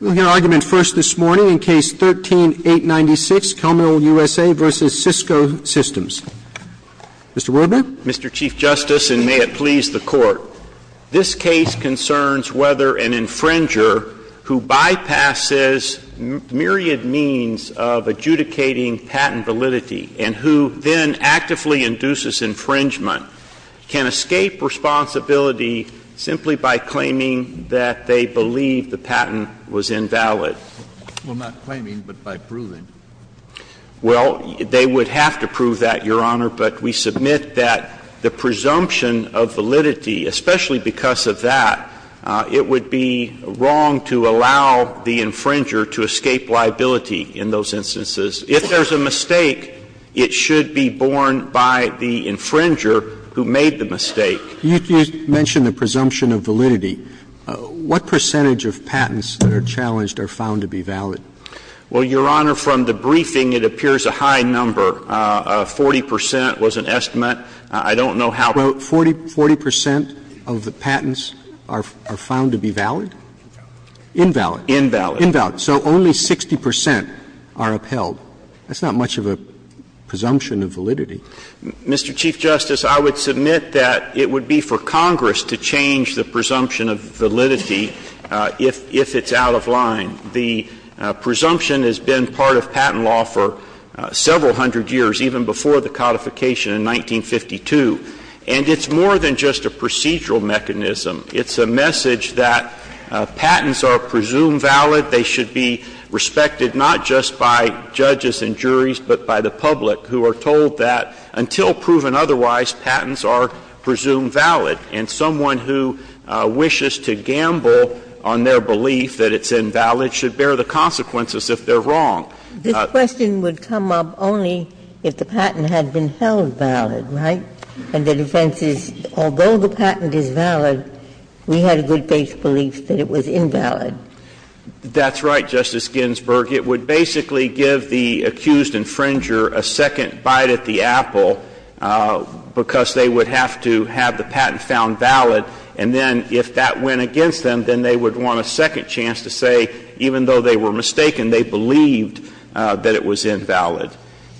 We'll hear argument first this morning in Case 13-896, Commeril USA v. Cisco Systems. Mr. Wardman? Mr. Chief Justice, and may it please the Court, this case concerns whether an infringer who bypasses myriad means of adjudicating patent validity and who then actively induces infringement can escape responsibility simply by claiming that they believe the patent was invalid? We're not claiming, but by proving. Well, they would have to prove that, Your Honor, but we submit that the presumption of validity, especially because of that, it would be wrong to allow the infringer to escape liability in those instances. If there's a mistake, it should be borne by the infringer who made the mistake. You mentioned the presumption of validity. What percentage of patents that are challenged are found to be valid? Well, Your Honor, from the briefing, it appears a high number. Forty percent was an estimate. I don't know how. Forty percent of the patents are found to be valid? Invalid. Invalid. Invalid. So only 60 percent are upheld. That's not much of a presumption of validity. Mr. Chief Justice, I would submit that it would be for Congress to change the presumption of validity if it's out of line. The presumption has been part of patent law for several hundred years, even before the codification in 1952, and it's more than just a procedural mechanism. It's a message that patents are presumed valid. They should be respected not just by judges and juries, but by the public, who are told that until proven otherwise, patents are presumed valid. And someone who wishes to gamble on their belief that it's invalid should bear the consequences if they're wrong. This question would come up only if the patent had been held valid, right? And the defense is, although the patent is valid, we had a good faith belief that it was invalid. That's right, Justice Ginsburg. It would basically give the accused infringer a second bite at the apple, because they would have to have the patent found valid, and then if that went against them, then they would want a second chance to say, even though they were mistaken, they believed that it was invalid.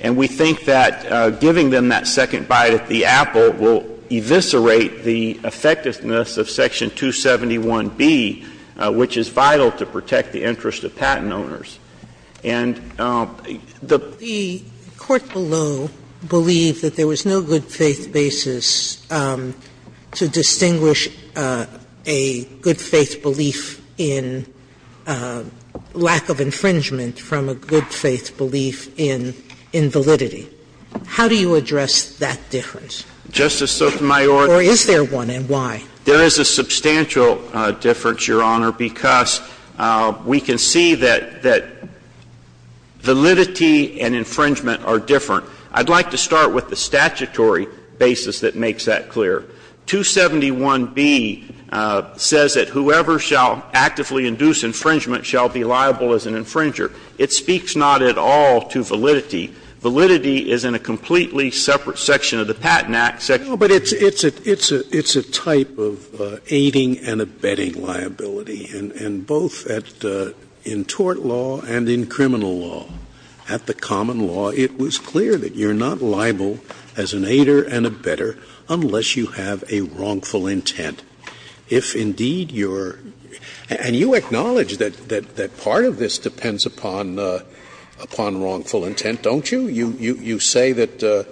And we think that giving them that second bite at the apple will eviscerate the effectiveness of Section 271B, which is vital to protect the interest of patent owners. And the Court below believed that there was no good faith basis to distinguish a good faith belief in lack of infringement from a good faith belief in invalidity. How do you address that difference? Justice Sotomayor, Or is there one, and why? There is a substantial difference, Your Honor, because we can see that validity and infringement are different. I'd like to start with the statutory basis that makes that clear. 271B says that whoever shall actively induce infringement shall be liable as an infringer. It speaks not at all to validity. Validity is in a completely separate section of the Patent Act, Section 271B. But it's a type of aiding and abetting liability, and both in tort law and in criminal law. At the common law, it was clear that you're not liable as an aider and abetter unless you have a wrongful intent. If, indeed, you're – and you acknowledge that part of this depends upon wrongful intent, don't you? You say that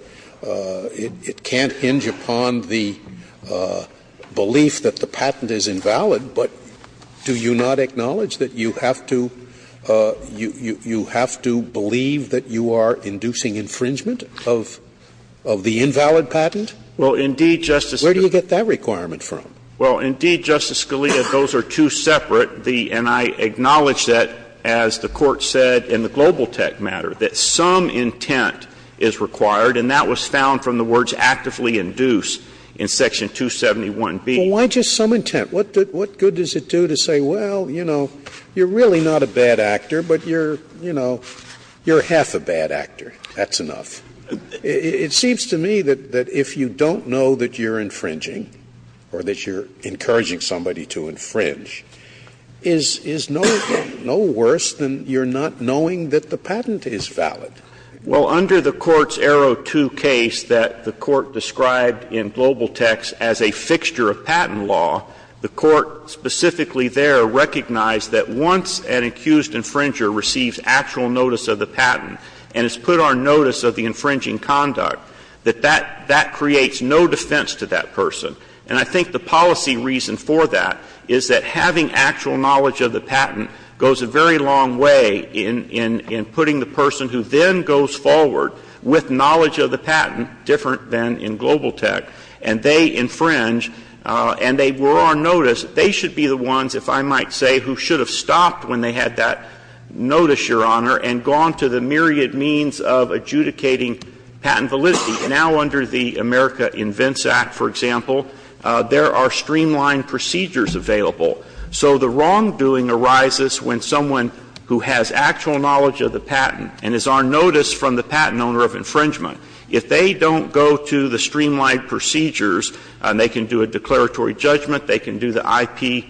it can't hinge upon the belief that the patent is invalid, but do you not acknowledge that you have to – you have to believe that you are inducing infringement of the invalid patent? Well, indeed, Justice Scalia – Where do you get that requirement from? Well, indeed, Justice Scalia, those are two separate. And I acknowledge that, as the Court said in the global tech matter, that some intent is required, and that was found from the words actively induce in Section 271B. Well, why just some intent? What good does it do to say, well, you know, you're really not a bad actor, but you're – you know, you're half a bad actor. That's enough. It seems to me that if you don't know that you're infringing or that you're encouraging somebody to infringe, is no worse than you're not knowing that the patent is valid. Well, under the Court's Arrow 2 case that the Court described in global techs as a fixture of patent law, the Court specifically there recognized that once an accused infringer receives actual notice of the patent and has put on notice of the infringing conduct, that that creates no defense to that person. And I think the policy reason for that is that having actual knowledge of the patent goes a very long way in putting the person who then goes forward with knowledge of the patent, different than in global tech, and they infringe and they were on notice, they should be the ones, if I might say, who should have stopped when they had that notice, Your Honor, and gone to the myriad means of adjudicating patent validity. Now, under the America Invents Act, for example, there are streamlined procedures available. So the wrongdoing arises when someone who has actual knowledge of the patent and is on notice from the patent owner of infringement, if they don't go to the streamlined procedures, and they can do a declaratory judgment, they can do the IPR,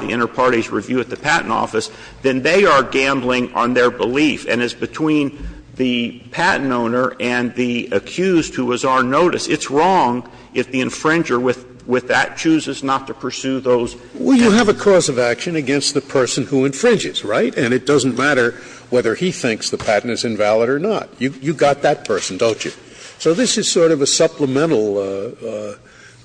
the Interparties Review at the Patent Office, then they are gambling on their belief. And as between the patent owner and the accused who was on notice, it's wrong if the infringer with that chooses not to pursue those actions. Scalia, Well, you have a cause of action against the person who infringes, right? And it doesn't matter whether he thinks the patent is invalid or not. You've got that person, don't you? So this is sort of a supplemental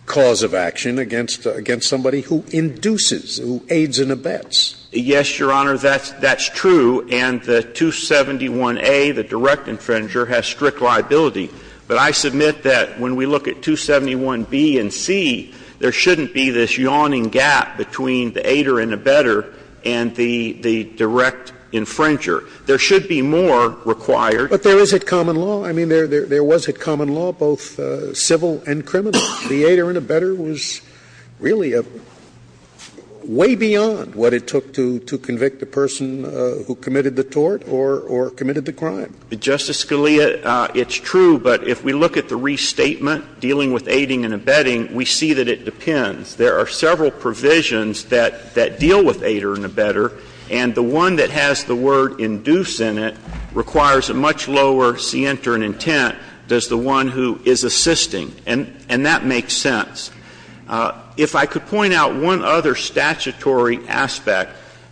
cause of action against somebody who induces, who aids and abets. Yes, Your Honor, that's true. And the 271A, the direct infringer, has strict liability. But I submit that when we look at 271B and C, there shouldn't be this yawning gap between the aider and abetter and the direct infringer. There should be more required. Scalia, But there is a common law. I mean, there was a common law, both civil and criminal. And it was a law that you took to convict the person who committed the tort or committed the crime. Justice Scalia, it's true, but if we look at the restatement dealing with aiding and abetting, we see that it depends. There are several provisions that deal with aider and abetter. And the one that has the word induce in it requires a much lower scienter and intent than the one who is assisting. And that makes sense. If I could point out one other statutory aspect,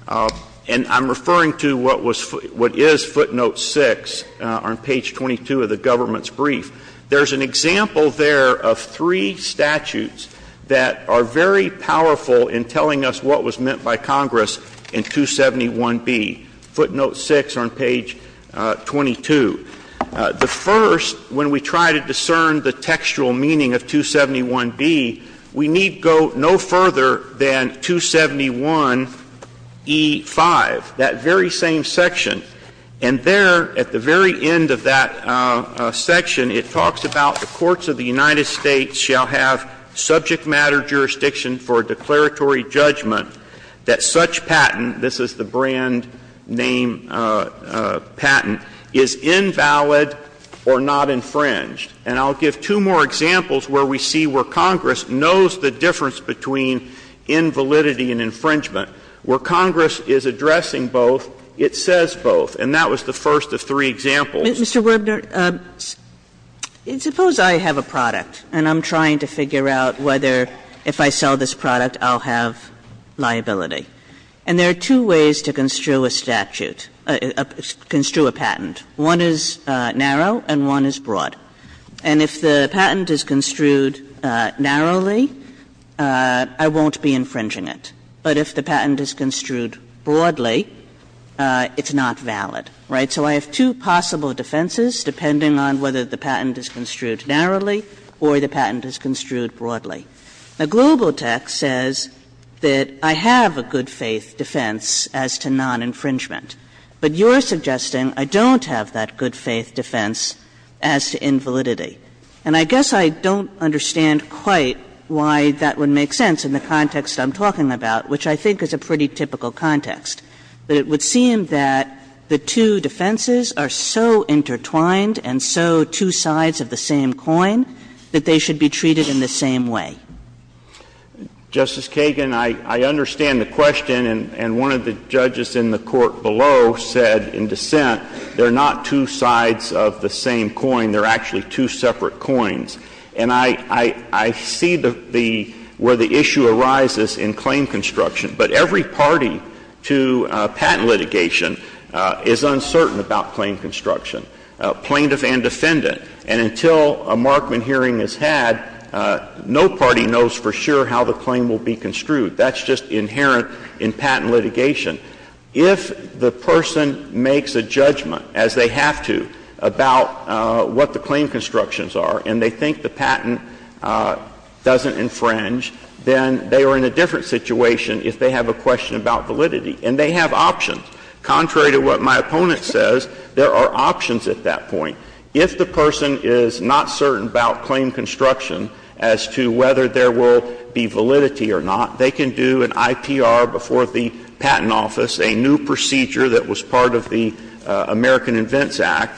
and I'm referring to what was — what is footnote 6 on page 22 of the government's brief, there's an example there of three statutes that are very powerful in telling us what was meant by Congress in 271B. Footnote 6 on page 22. The first, when we try to discern the textual meaning of 271B, we need go no further than 271E5, that very same section. And there, at the very end of that section, it talks about the courts of the United States shall have subject matter jurisdiction for declaratory judgment that such patent — this is the brand name patent — is invalid or not infringed. And I'll give two more examples where we see where Congress knows the difference between invalidity and infringement. Where Congress is addressing both, it says both. And that was the first of three examples. Kagan. Kagan. Mr. Werner, suppose I have a product and I'm trying to figure out whether, if I sell this product, I'll have liability. And there are two ways to construe a statute — construe a patent. One is narrow and one is broad. And if the patent is construed narrowly, I won't be infringing it. But if the patent is construed broadly, it's not valid, right? So I have two possible defenses depending on whether the patent is construed narrowly or the patent is construed broadly. Now, Global Tech says that I have a good-faith defense as to non-infringement. But you're suggesting I don't have that good-faith defense as to invalidity. And I guess I don't understand quite why that would make sense in the context I'm talking about, which I think is a pretty typical context. But it would seem that the two defenses are so intertwined and so two sides of the same coin that they should be treated in the same way. Justice Kagan, I understand the question, and one of the judges in the Court below said in dissent, they're not two sides of the same coin, they're actually two separate coins. And I see the — where the issue arises in claim construction. But every party to patent litigation is uncertain about claim construction, plaintiff and defendant. And until a Markman hearing is had, no party knows for sure how the claim will be construed. That's just inherent in patent litigation. If the person makes a judgment, as they have to, about what the claim constructions are and they think the patent doesn't infringe, then they are in a different situation if they have a question about validity. And they have options. Contrary to what my opponent says, there are options at that point. If the person is not certain about claim construction as to whether there will be validity or not, they can do an IPR before the Patent Office, a new procedure that was part of the American Invents Act,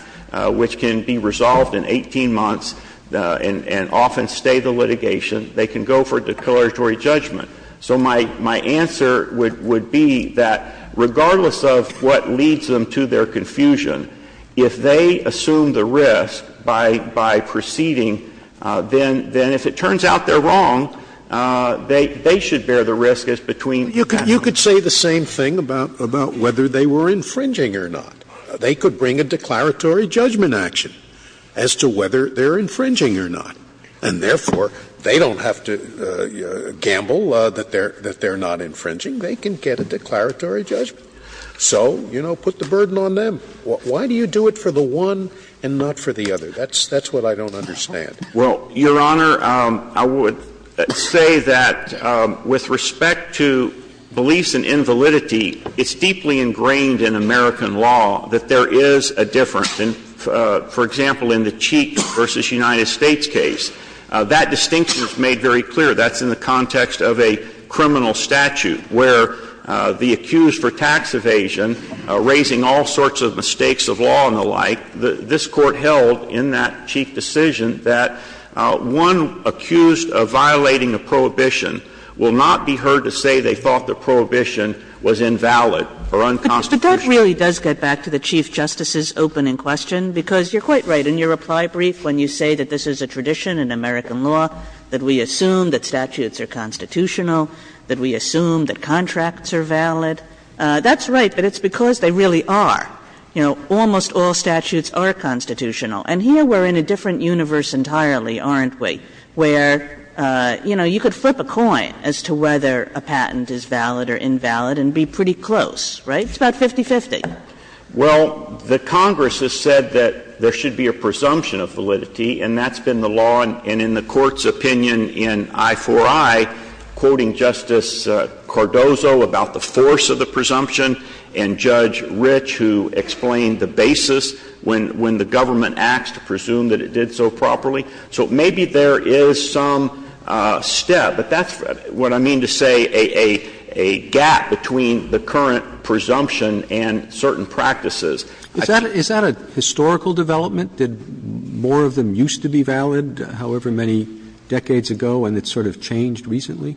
which can be resolved in 18 months and often stay the litigation. They can go for declaratory judgment. So my answer would be that regardless of what leads them to their confusion, if they assume the risk by proceeding, then if it turns out they're wrong, they should bear the risk as between patent and not patent. Scalia. You could say the same thing about whether they were infringing or not. They could bring a declaratory judgment action as to whether they're infringing or not. And therefore, they don't have to gamble that they're not infringing. They can get a declaratory judgment. So, you know, put the burden on them. Why do you do it for the one and not for the other? That's what I don't understand. Well, Your Honor, I would say that with respect to beliefs and invalidity, it's deeply ingrained in American law that there is a difference. And, for example, in the Cheek v. United States case, that distinction is made very clear. That's in the context of a criminal statute where the accused for tax evasion, raising all sorts of mistakes of law and the like, this Court held in that Chief decision that one accused of violating a prohibition will not be heard to say they thought the prohibition was invalid or unconstitutional. But that really does get back to the Chief Justice's opening question, because you're quite right in your reply brief when you say that this is a tradition in American law, that we assume that statutes are constitutional, that we assume that contracts are valid. That's right, but it's because they really are. You know, almost all statutes are constitutional. And here we're in a different universe entirely, aren't we, where, you know, you could flip a coin as to whether a patent is valid or invalid and be pretty close, right? It's about 50-50. Well, the Congress has said that there should be a presumption of validity, and that's been the law. And in the Court's opinion in I-4-I, quoting Justice Cardozo about the force of the presumption, and Judge Rich, who explained the basis when the government acts to presume that it did so properly, so maybe there is some step. But that's what I mean to say, a gap between the current presumption and certain practices. Is that a historical development? Did more of them used to be valid? Is that a historical development? Is that a historical development? Has that been understood, however many decades ago, and it's sort of changed recently?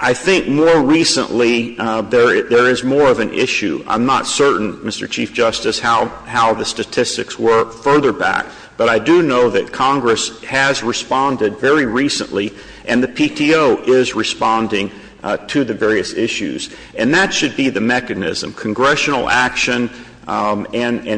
I think more recently, there is more of an issue. I'm not certain, Mr. Chief Justice, how the statistics were further back. But I do know that Congress has responded very recently, and the PTO is responding to the various issues. And that should be the mechanism, congressional action and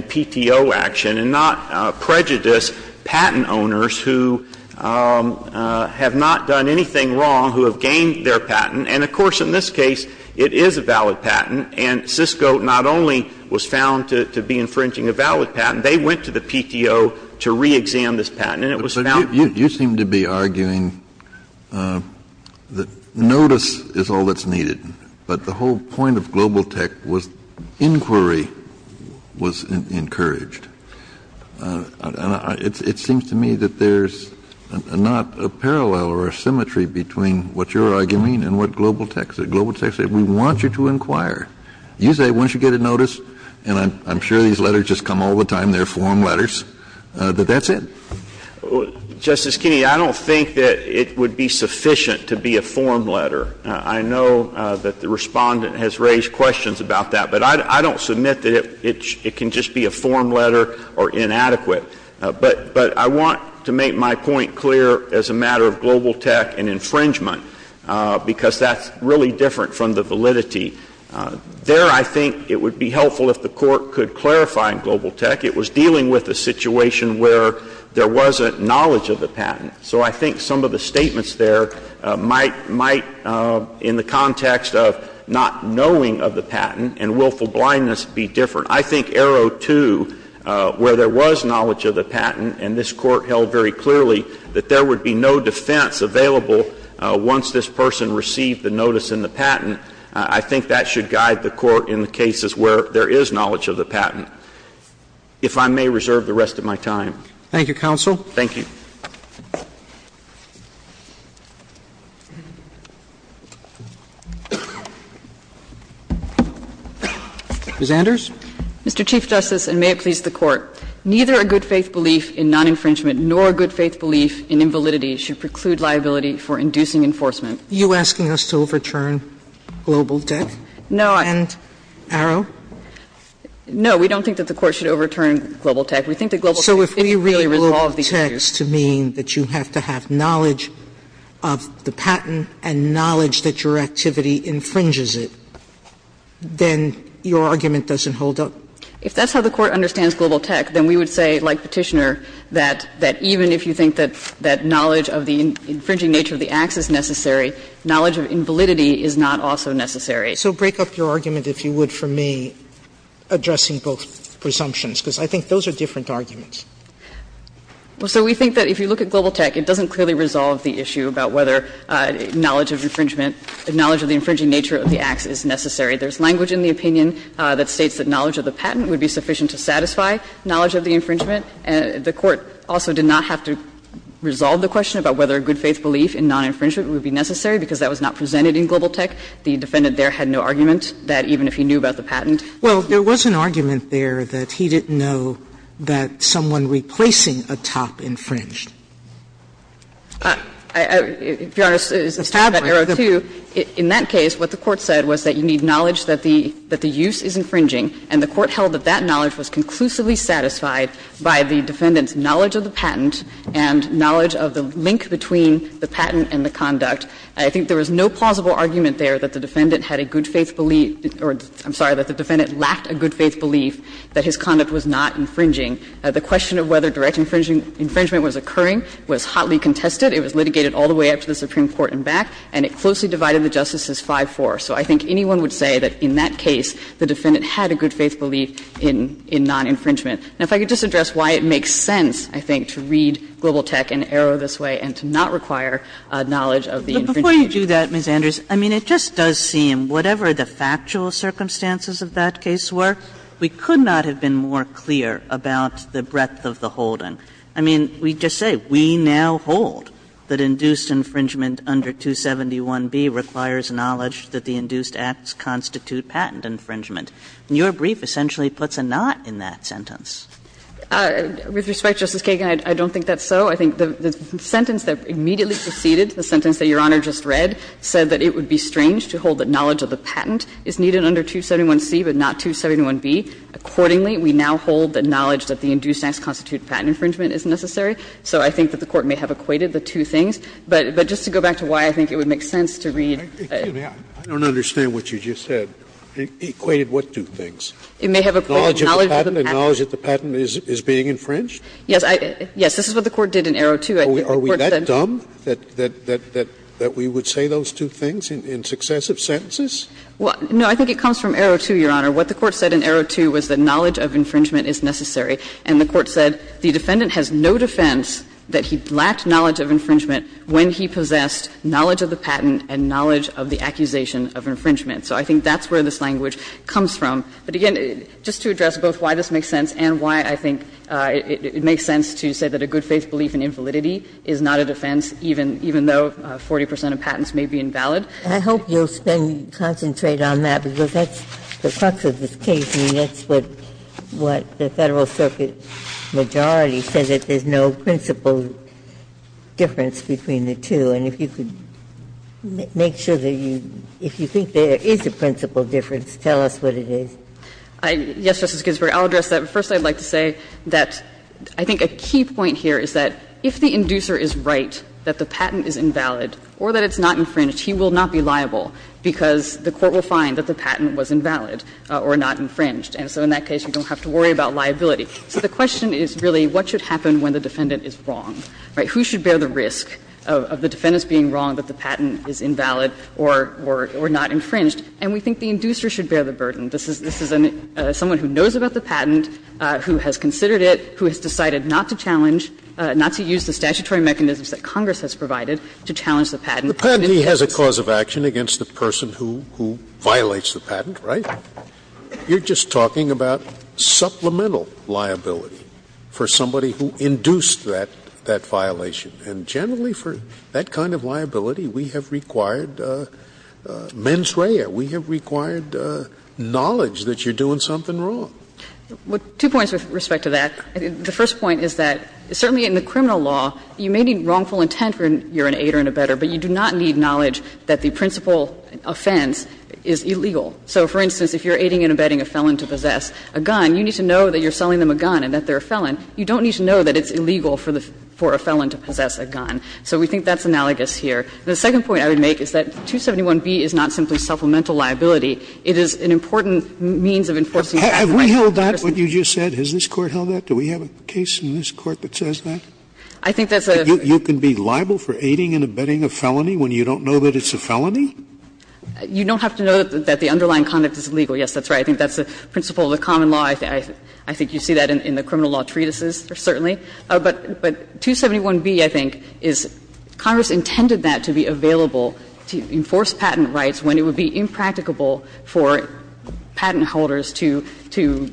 PTO action, and not prejudice patent owners who have not done anything wrong, who have gained their patent. And, of course, in this case, it is a valid patent, and Cisco not only was found to be infringing a valid patent, they went to the PTO to reexam this patent, and it was found to be valid. But the whole point of global tech was inquiry was encouraged. And it seems to me that there's not a parallel or a symmetry between what you're arguing and what global tech said. Global tech said, we want you to inquire. You say, once you get a notice, and I'm sure these letters just come all the time, they're form letters, that that's it. Justice Kennedy, I don't think that it would be sufficient to be a form letter. I know that the Respondent has raised questions about that, but I don't submit that it can just be a form letter or inadequate. But I want to make my point clear as a matter of global tech and infringement, because that's really different from the validity. There I think it would be helpful if the Court could clarify in global tech, it was dealing with a situation where there wasn't knowledge of the patent. So I think some of the statements there might, in the context of not knowing of the patent and willful blindness, be different. I think arrow two, where there was knowledge of the patent and this Court held very clearly that there would be no defense available once this person received the notice in the patent, I think that should guide the Court in the cases where there is knowledge of the patent. If I may reserve the rest of my time. Roberts. Thank you, counsel. Thank you. Ms. Anders. Mr. Chief Justice, and may it please the Court, neither a good-faith belief in non-infringement nor a good-faith belief in invalidity should preclude liability for inducing enforcement. Are you asking us to overturn global tech? No. And arrow? No. We don't think that the Court should overturn global tech. We think that global tech is really the law of these issues. If you think that infringement of global tech does mean that you have to have knowledge of the patent and knowledge that your activity infringes it, then your argument doesn't hold up? If that's how the Court understands global tech, then we would say, like Petitioner, that even if you think that knowledge of the infringing nature of the act is necessary, knowledge of invalidity is not also necessary. So break up your argument, if you would, for me, addressing both presumptions, because I think those are different arguments. Well, so we think that if you look at global tech, it doesn't clearly resolve the issue about whether knowledge of infringement, knowledge of the infringing nature of the acts is necessary. There's language in the opinion that states that knowledge of the patent would be sufficient to satisfy knowledge of the infringement. The Court also did not have to resolve the question about whether a good-faith belief in non-infringement would be necessary, because that was not presented in global tech. The defendant there had no argument that even if he knew about the patent. Sotomayor's argument there was that he didn't know that someone replacing a top infringed. If you're honest, it's tabular, too. In that case, what the Court said was that you need knowledge that the use is infringing, and the Court held that that knowledge was conclusively satisfied by the defendant's knowledge of the patent and knowledge of the link between the patent and the conduct. I think there was no plausible argument there that the defendant had a good-faith belief or, I'm sorry, that the defendant lacked a good-faith belief that his conduct was not infringing. The question of whether direct infringement was occurring was hotly contested. It was litigated all the way up to the Supreme Court and back, and it closely divided the justices 5-4. So I think anyone would say that in that case, the defendant had a good-faith belief in non-infringement. Now, if I could just address why it makes sense, I think, to read global tech and arrow this way and to not require knowledge of the infringement. Kagan I will not do that, Ms. Anders. I mean, it just does seem, whatever the factual circumstances of that case were, we could not have been more clear about the breadth of the holding. I mean, we just say, we now hold that induced infringement under 271b requires knowledge that the induced acts constitute patent infringement. And your brief essentially puts a knot in that sentence. Anders With respect, Justice Kagan, I don't think that's so. I think the sentence that immediately preceded the sentence that Your Honor just read said that it would be strange to hold that knowledge of the patent is needed under 271c, but not 271b. Accordingly, we now hold that knowledge that the induced acts constitute patent infringement is necessary. So I think that the Court may have equated the two things. But just to go back to why I think it would make sense to read the two things. Scalia I don't understand what you just said. Anders With respect, Justice Kagan, I don't think that the sentence that preceded the sentence that Your Honor just read said that it would be strange to hold that knowledge of the patent is needed under 271c, but not 271b. Scalia Are we that dumb that we would say those two things in successive sentences? Anders With respect, Justice Kagan, I don't think that the sentence that preceded the sentence that Your Honor just read said that it would be strange to hold that knowledge of the patent is necessary under 271c, but not 271b. And the Court said the defendant has no defense that he lacked knowledge of infringement when he possessed knowledge of the patent and knowledge of the accusation of infringement. So I think that's where this language comes from. But again, just to address both why this makes sense and why I think it makes sense to say that a good-faith belief in invalidity is not a defense, even though 40 percent of patents may be invalid. Ginsburg I hope you'll spend and concentrate on that, because that's the crux of this case, and that's what the Federal Circuit majority says, that there's no principal difference between the two. And if you could make sure that you – if you think there is a principal difference, tell us what it is. Anders With respect, Justice Ginsburg, I'll address that. First, I'd like to say that I think a key point here is that if the inducer is right that the patent is invalid or that it's not infringed, he will not be liable, because the Court will find that the patent was invalid or not infringed. And so in that case, you don't have to worry about liability. So the question is really what should happen when the defendant is wrong, right? Who should bear the risk of the defendant's being wrong that the patent is invalid or not infringed? And we think the inducer should bear the burden. This is someone who knows about the patent, who has considered it, who has decided not to challenge – not to use the statutory mechanisms that Congress has provided to challenge the patent. Scalia. The patentee has a cause of action against the person who violates the patent, right? You're just talking about supplemental liability for somebody who induced that violation. And generally for that kind of liability, we have required mens rea. We have required knowledge that you're doing something wrong. Two points with respect to that. The first point is that certainly in the criminal law, you may need wrongful intent when you're an aider and abetter, but you do not need knowledge that the principal offense is illegal. So, for instance, if you're aiding and abetting a felon to possess a gun, you need to know that you're selling them a gun and that they're a felon. You don't need to know that it's illegal for the – for a felon to possess a gun. So we think that's analogous here. The second point I would make is that 271B is not simply supplemental liability. It is an important means of enforcing the right of the person to possess a gun. Scalia, have we held that, what you just said? Has this Court held that? Do we have a case in this Court that says that? I think that's a – You can be liable for aiding and abetting a felony when you don't know that it's a felony? You don't have to know that the underlying conduct is illegal. Yes, that's right. I think that's the principle of the common law. I think you see that in the criminal law treatises, certainly. But 271B, I think, is Congress intended that to be available to enforce patent rights when it would be impracticable for patent holders to – to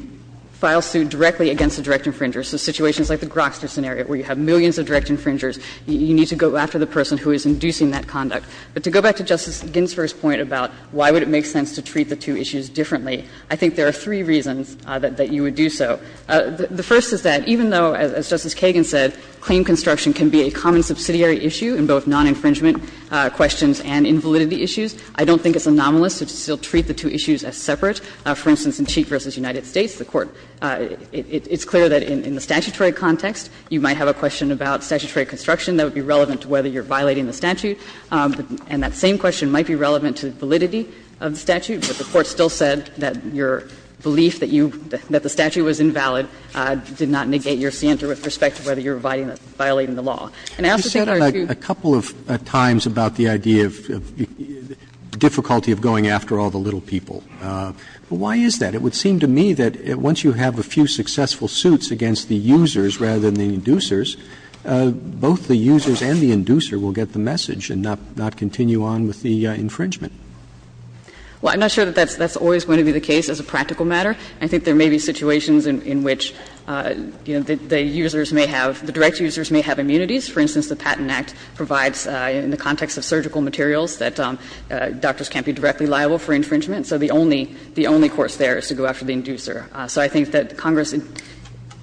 file suit directly against a direct infringer. So situations like the Grokster scenario where you have millions of direct infringers, you need to go after the person who is inducing that conduct. But to go back to Justice Ginsburg's point about why would it make sense to treat the two issues differently, I think there are three reasons that you would do so. The first is that even though, as Justice Kagan said, claim construction can be a common subsidiary issue in both non-infringement questions and invalidity issues, I don't think it's anomalous to still treat the two issues as separate. For instance, in Cheek v. United States, the Court – it's clear that in the statutory context, you might have a question about statutory construction that would be relevant to whether you're violating the statute. And that same question might be relevant to validity of the statute, but the Court still said that your belief that you – that the statute was invalid did not negate your standard with respect to whether you're violating the law. And I also think there are two – Roberts, you said a couple of times about the idea of the difficulty of going after all the little people. Why is that? It would seem to me that once you have a few successful suits against the users rather than the inducers, both the users and the inducer will get the message and not continue on with the infringement. Well, I'm not sure that that's always going to be the case as a practical matter. I think there may be situations in which, you know, the users may have – the direct users may have immunities. For instance, the Patent Act provides in the context of surgical materials that doctors can't be directly liable for infringement, so the only – the only course there is to go after the inducer. So I think that Congress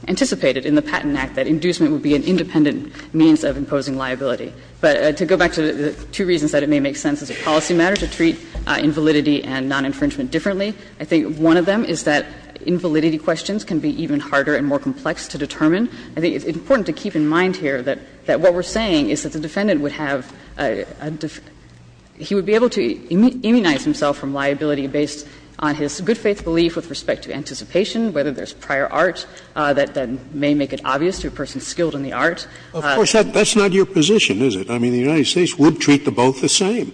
anticipated in the Patent Act that inducement would be an independent means of imposing liability. But to go back to the two reasons that it may make sense as a policy matter to treat invalidity and non-infringement differently, I think one of them is that invalidity questions can be even harder and more complex to determine. I think it's important to keep in mind here that what we're saying is that the defendant would have a – he would be able to immunize himself from liability based on his good faith belief with respect to anticipation, whether there's prior art that may make it obvious to a person skilled in the art. Scalia, of course, that's not your position, is it? I mean, the United States would treat the both the same,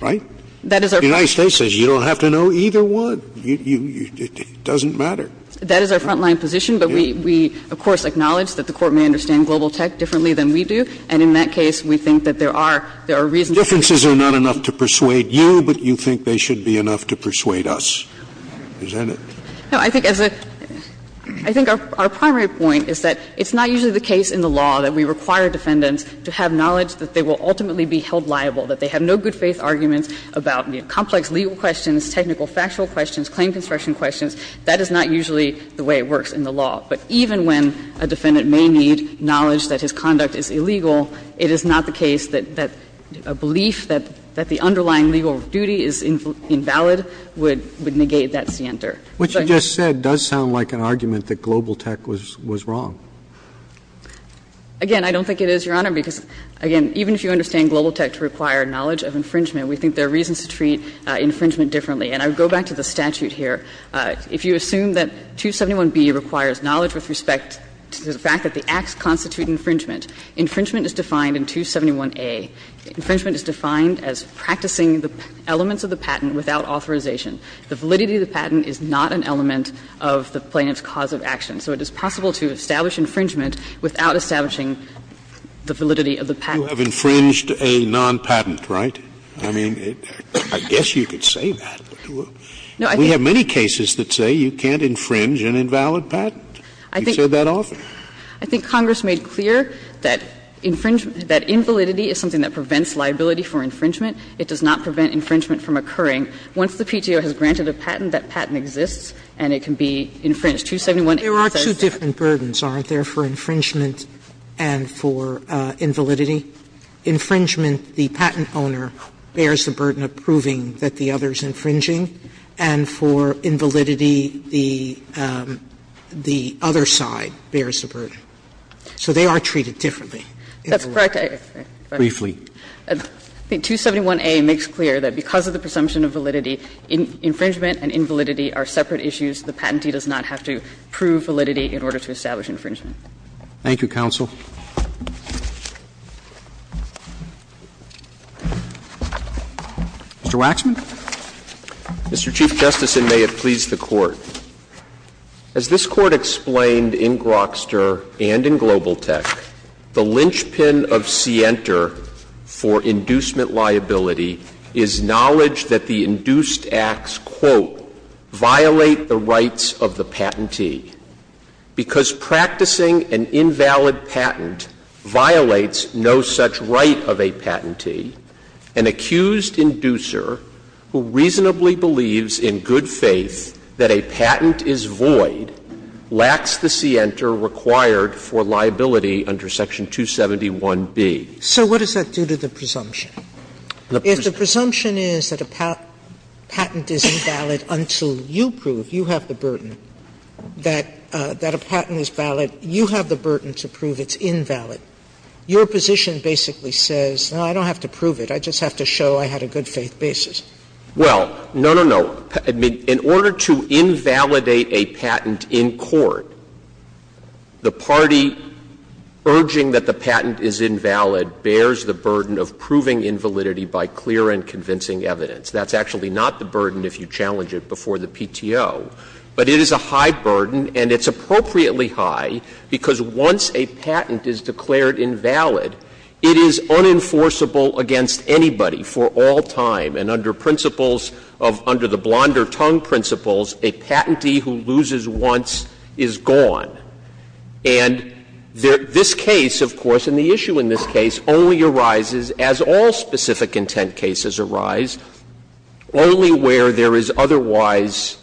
right? That is our – The United States says you don't have to know either one. It doesn't matter. That is our frontline position, but we, of course, acknowledge that the Court may understand global tech differently than we do, and in that case, we think that there are – there are reasons to think that. Differences are not enough to persuade you, but you think they should be enough to persuade us. Isn't it? No, I think as a – I think our primary point is that it's not usually the case in the law that we require defendants to have knowledge that they will ultimately be held liable, that they have no good faith arguments about, you know, complex legal questions, technical factual questions, claim construction questions. That is not usually the way it works in the law, but even when a defendant may need knowledge that his conduct is illegal, it is not the case that a belief that the underlying legal duty is invalid would negate that scienter. What you just said does sound like an argument that global tech was wrong. Again, I don't think it is, Your Honor, because, again, even if you understand global tech to require knowledge of infringement, we think there are reasons to treat infringement differently. And I would go back to the statute here. If you assume that 271B requires knowledge with respect to the fact that the acts constitute infringement, infringement is defined in 271A. Infringement is defined as practicing the elements of the patent without authorization. The validity of the patent is not an element of the plaintiff's cause of action. So it is possible to establish infringement without establishing the validity of the patent. Scalia, You have infringed a non-patent, right? I mean, I guess you could say that. We have many cases that say you can't infringe an invalid patent. You've said that often. I think Congress made clear that infringement, that invalidity is something that prevents liability for infringement. It does not prevent infringement from occurring. Once the PTO has granted a patent, that patent exists and it can be infringed. 271A says that. Sotomayor There are two different burdens, aren't there, for infringement and for invalidity? Infringement, the patent owner bears the burden of proving that the other is infringing, and for invalidity, the other side bears the burden. So they are treated differently. That's correct. Roberts, briefly. I think 271A makes clear that because of the presumption of validity, infringement and invalidity are separate issues. The patentee does not have to prove validity in order to establish infringement. Thank you, counsel. Mr. Waxman. Mr. Chief Justice, and may it please the Court. As this Court explained in Grokster and in Global Tech, the linchpin of Sienter for inducement liability is knowledge that the induced acts, quote, violate the right of the patentee, because practicing an invalid patent violates no such right of a patentee. An accused inducer who reasonably believes in good faith that a patent is void lacks the Sienter required for liability under Section 271B. So what does that do to the presumption? If the presumption is that a patent is invalid until you prove you have the burden that a patent is valid, you have the burden to prove it's invalid. Your position basically says, no, I don't have to prove it. I just have to show I had a good faith basis. Well, no, no, no. In order to invalidate a patent in court, the party urging that the patent is invalid bears the burden of proving invalidity by clear and convincing evidence. That's actually not the burden if you challenge it before the PTO. But it is a high burden, and it's appropriately high, because once a patent is declared invalid, it is unenforceable against anybody for all time. And under principles of the Blonder-Tung principles, a patentee who loses once is gone. And this case, of course, and the issue in this case, only arises, as all specific intent cases arise, only where there is otherwise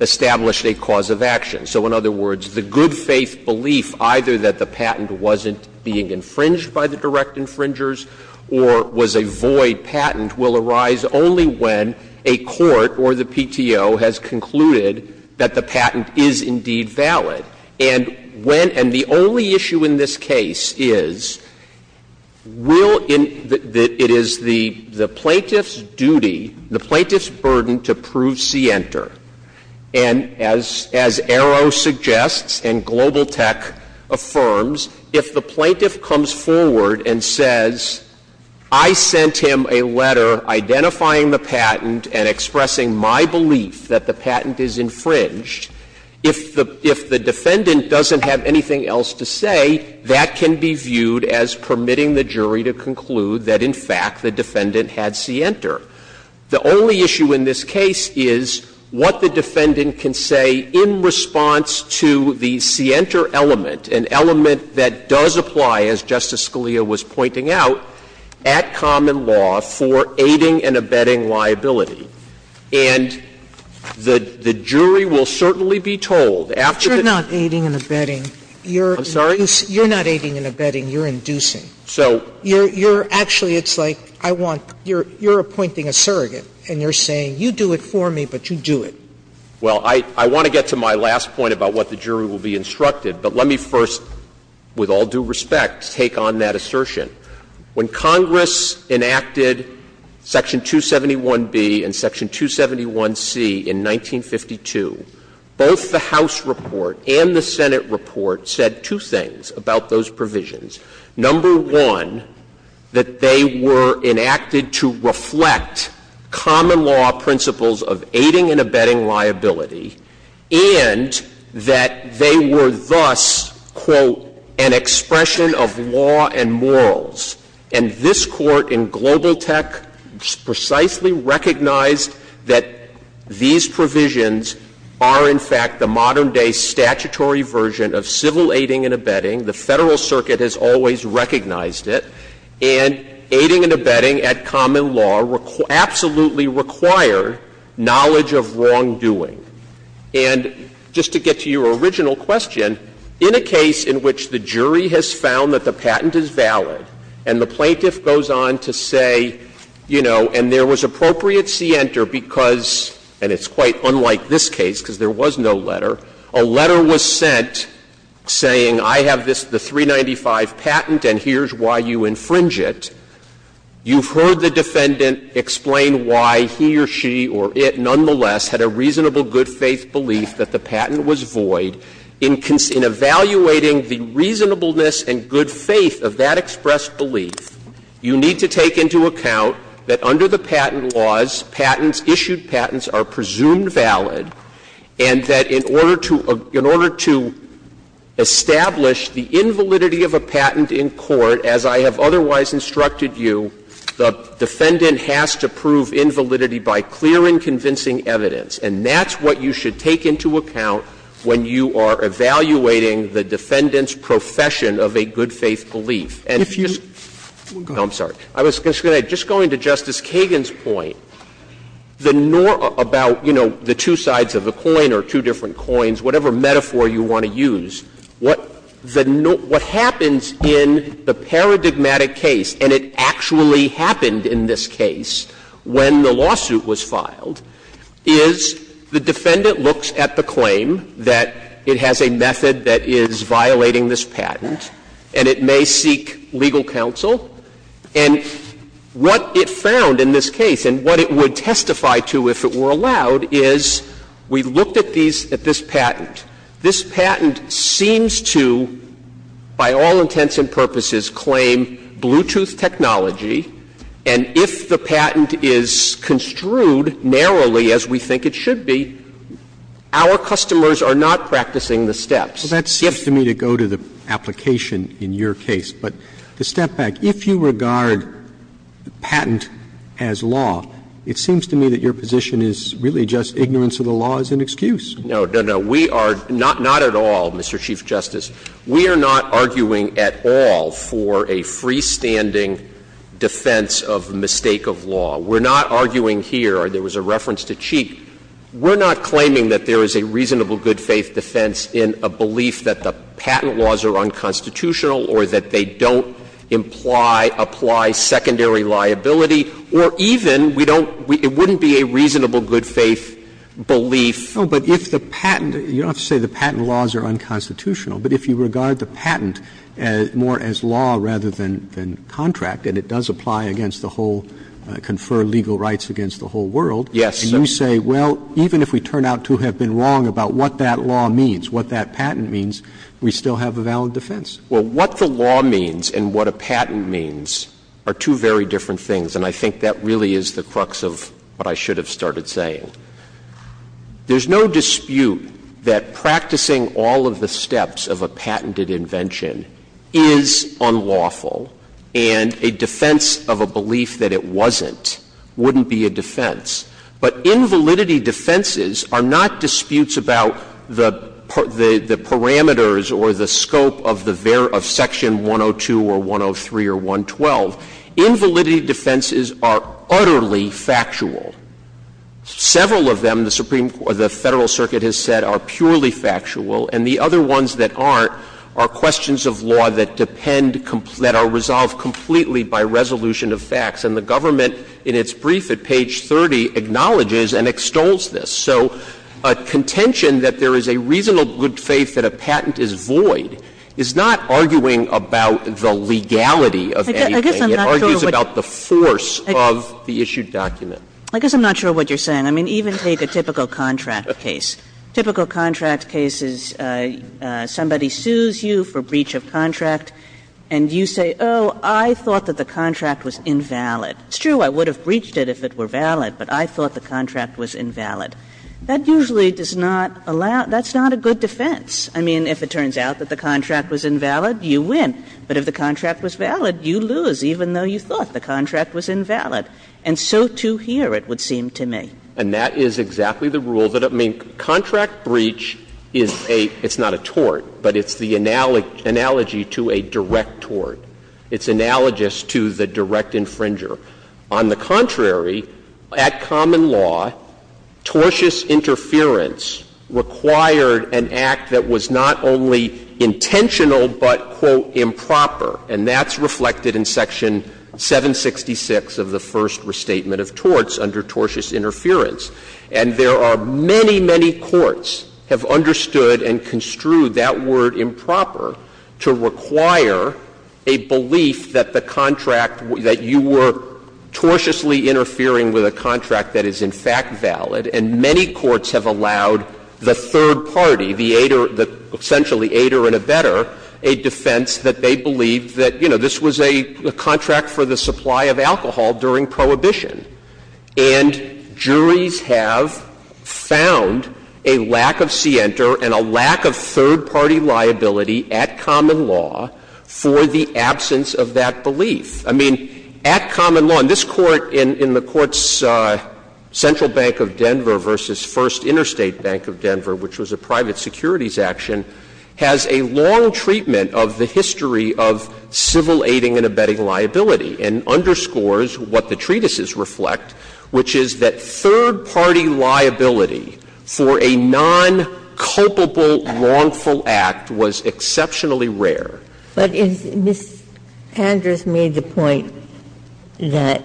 established a cause of action. So in other words, the good faith belief either that the patent wasn't being infringed by the direct infringers or was a void patent will arise only when a court or the PTO has concluded that the patent is indeed valid. And when — and the only issue in this case is, will — it is the plaintiff's duty, the plaintiff's burden to prove scienter. And as Arrow suggests and Global Tech affirms, if the plaintiff comes forward and says, I sent him a letter identifying the patent and expressing my belief that the patent is infringed, if the defendant doesn't have anything else to say, that can be viewed as permitting the jury to conclude that, in fact, the defendant had scienter. The only issue in this case is what the defendant can say in response to the scienter element, an element that does apply, as Justice Scalia was pointing out, at common law for aiding and abetting liability. And the jury will certainly be told, after the — Sotomayor, you're not aiding and abetting, you're — Waxman, I'm sorry? You're not aiding and abetting, you're inducing. So — You're — you're — actually, it's like I want — you're appointing a surrogate and you're saying, you do it for me, but you do it. Well, I want to get to my last point about what the jury will be instructed, but let me first, with all due respect, take on that assertion. When Congress enacted Section 271B and Section 271C in 1952, both the House report and the Senate report said two things about those provisions. Number one, that they were enacted to reflect common law principles of aiding and abetting liability, and that they were thus, quote, an expression of law and morals. And this Court in Global Tech precisely recognized that these provisions are, in fact, the modern-day statutory version of civil aiding and abetting. The Federal Circuit has always recognized it. And aiding and abetting at common law absolutely required knowledge of wrongdoing. And just to get to your original question, in a case in which the jury has found that the patent is valid and the plaintiff goes on to say, you know, and there was appropriate scienter because — and it's quite unlike this case because there was no letter — a letter was sent saying, I have this, the 395 patent, and here's why you infringe it. You've heard the defendant explain why he or she or it nonetheless had a reasonable good-faith belief that the patent was void. In evaluating the reasonableness and good faith of that expressed belief, you need to take into account that under the patent laws, patents, issued patents, are presumed valid, and that in order to establish the invalidity of a patent in court, as I have otherwise instructed you, the defendant has to prove invalidity by clear and convincing evidence. And that's what you should take into account when you are evaluating the defendant's profession of a good-faith belief. And if you — Sotomayor, I'm sorry. I was just going to — just going to Justice Kagan's point, the norm about, you know, the two sides of a coin or two different coins, whatever metaphor you want to use, what the — what happens in the paradigmatic case, and it actually happened in this case when the lawsuit was filed, is the defendant looks at the claim that it has a method that is violating this patent, and it may seek legal counsel. And what it found in this case, and what it would testify to if it were allowed, is we looked at these — at this patent. This patent seems to, by all intents and purposes, claim Bluetooth technology. And if the patent is construed narrowly as we think it should be, our customers are not practicing the steps. If — Roberts. Well, that seems to me to go to the application in your case. But to step back, if you regard patent as law, it seems to me that your position is really just ignorance of the law as an excuse. No, no, no. We are not at all, Mr. Chief Justice, we are not arguing at all for a freestanding defense of mistake of law. We're not arguing here — there was a reference to Cheek. We're not claiming that there is a reasonable good-faith defense in a belief that the patent laws are unconstitutional or that they don't imply — apply secondary liability, or even we don't — it wouldn't be a reasonable good-faith belief. No, but if the patent — you don't have to say the patent laws are unconstitutional, but if you regard the patent more as law rather than contract, and it does apply against the whole — confer legal rights against the whole world, and you say, well, even if we turn out to have been wrong about what that law means, what that patent means, we still have a valid defense. Well, what the law means and what a patent means are two very different things, and I think that really is the crux of what I should have started saying. There's no dispute that practicing all of the steps of a patented invention is unlawful, and a defense of a belief that it wasn't wouldn't be a defense. But invalidity defenses are not disputes about the parameters or the scope of the various issues that are there of Section 102 or 103 or 112. Invalidity defenses are utterly factual. Several of them, the Supreme — the Federal Circuit has said are purely factual, and the other ones that aren't are questions of law that depend — that are resolved completely by resolution of facts. And the government, in its brief at page 30, acknowledges and extols this. So a contention that there is a reasonable good faith that a patent is void is not arguing about the legality of anything. It argues about the force of the issued document. Kagan. I guess I'm not sure what you're saying. I mean, even take a typical contract case. Typical contract cases, somebody sues you for breach of contract, and you say, oh, I thought that the contract was invalid. It's true, I would have breached it if it were valid, but I thought the contract was invalid. That usually does not allow — that's not a good defense. I mean, if it turns out that the contract was invalid, you win. But if the contract was valid, you lose, even though you thought the contract was invalid. And so, too, here, it would seem to me. And that is exactly the rule that — I mean, contract breach is a — it's not a tort, but it's the analogy to a direct tort. It's analogous to the direct infringer. On the contrary, at common law, tortious interference required an act that was not only intentional but, quote, improper. And that's reflected in Section 766 of the First Restatement of Torts under tortious interference. And there are many, many courts have understood and construed that word improper to require a belief that the contract — that you were tortiously interfering with a contract that is, in fact, valid. And many courts have allowed the third party, the aider — essentially, aider and abetter — a defense that they believed that, you know, this was a contract for the supply of alcohol during prohibition. And juries have found a lack of scienter and a lack of third-party liability at common law for the absence of that belief. I mean, at common law — and this Court in the Court's Central Bank of Denver v. First Interstate Bank of Denver, which was a private securities action, has a long treatment of the history of civil aiding and abetting liability and underscores what the treatises reflect, which is that third-party liability for a non-culpable wrongful act was exceptionally rare. Ginsburg. But is — Ms. Panders made the point that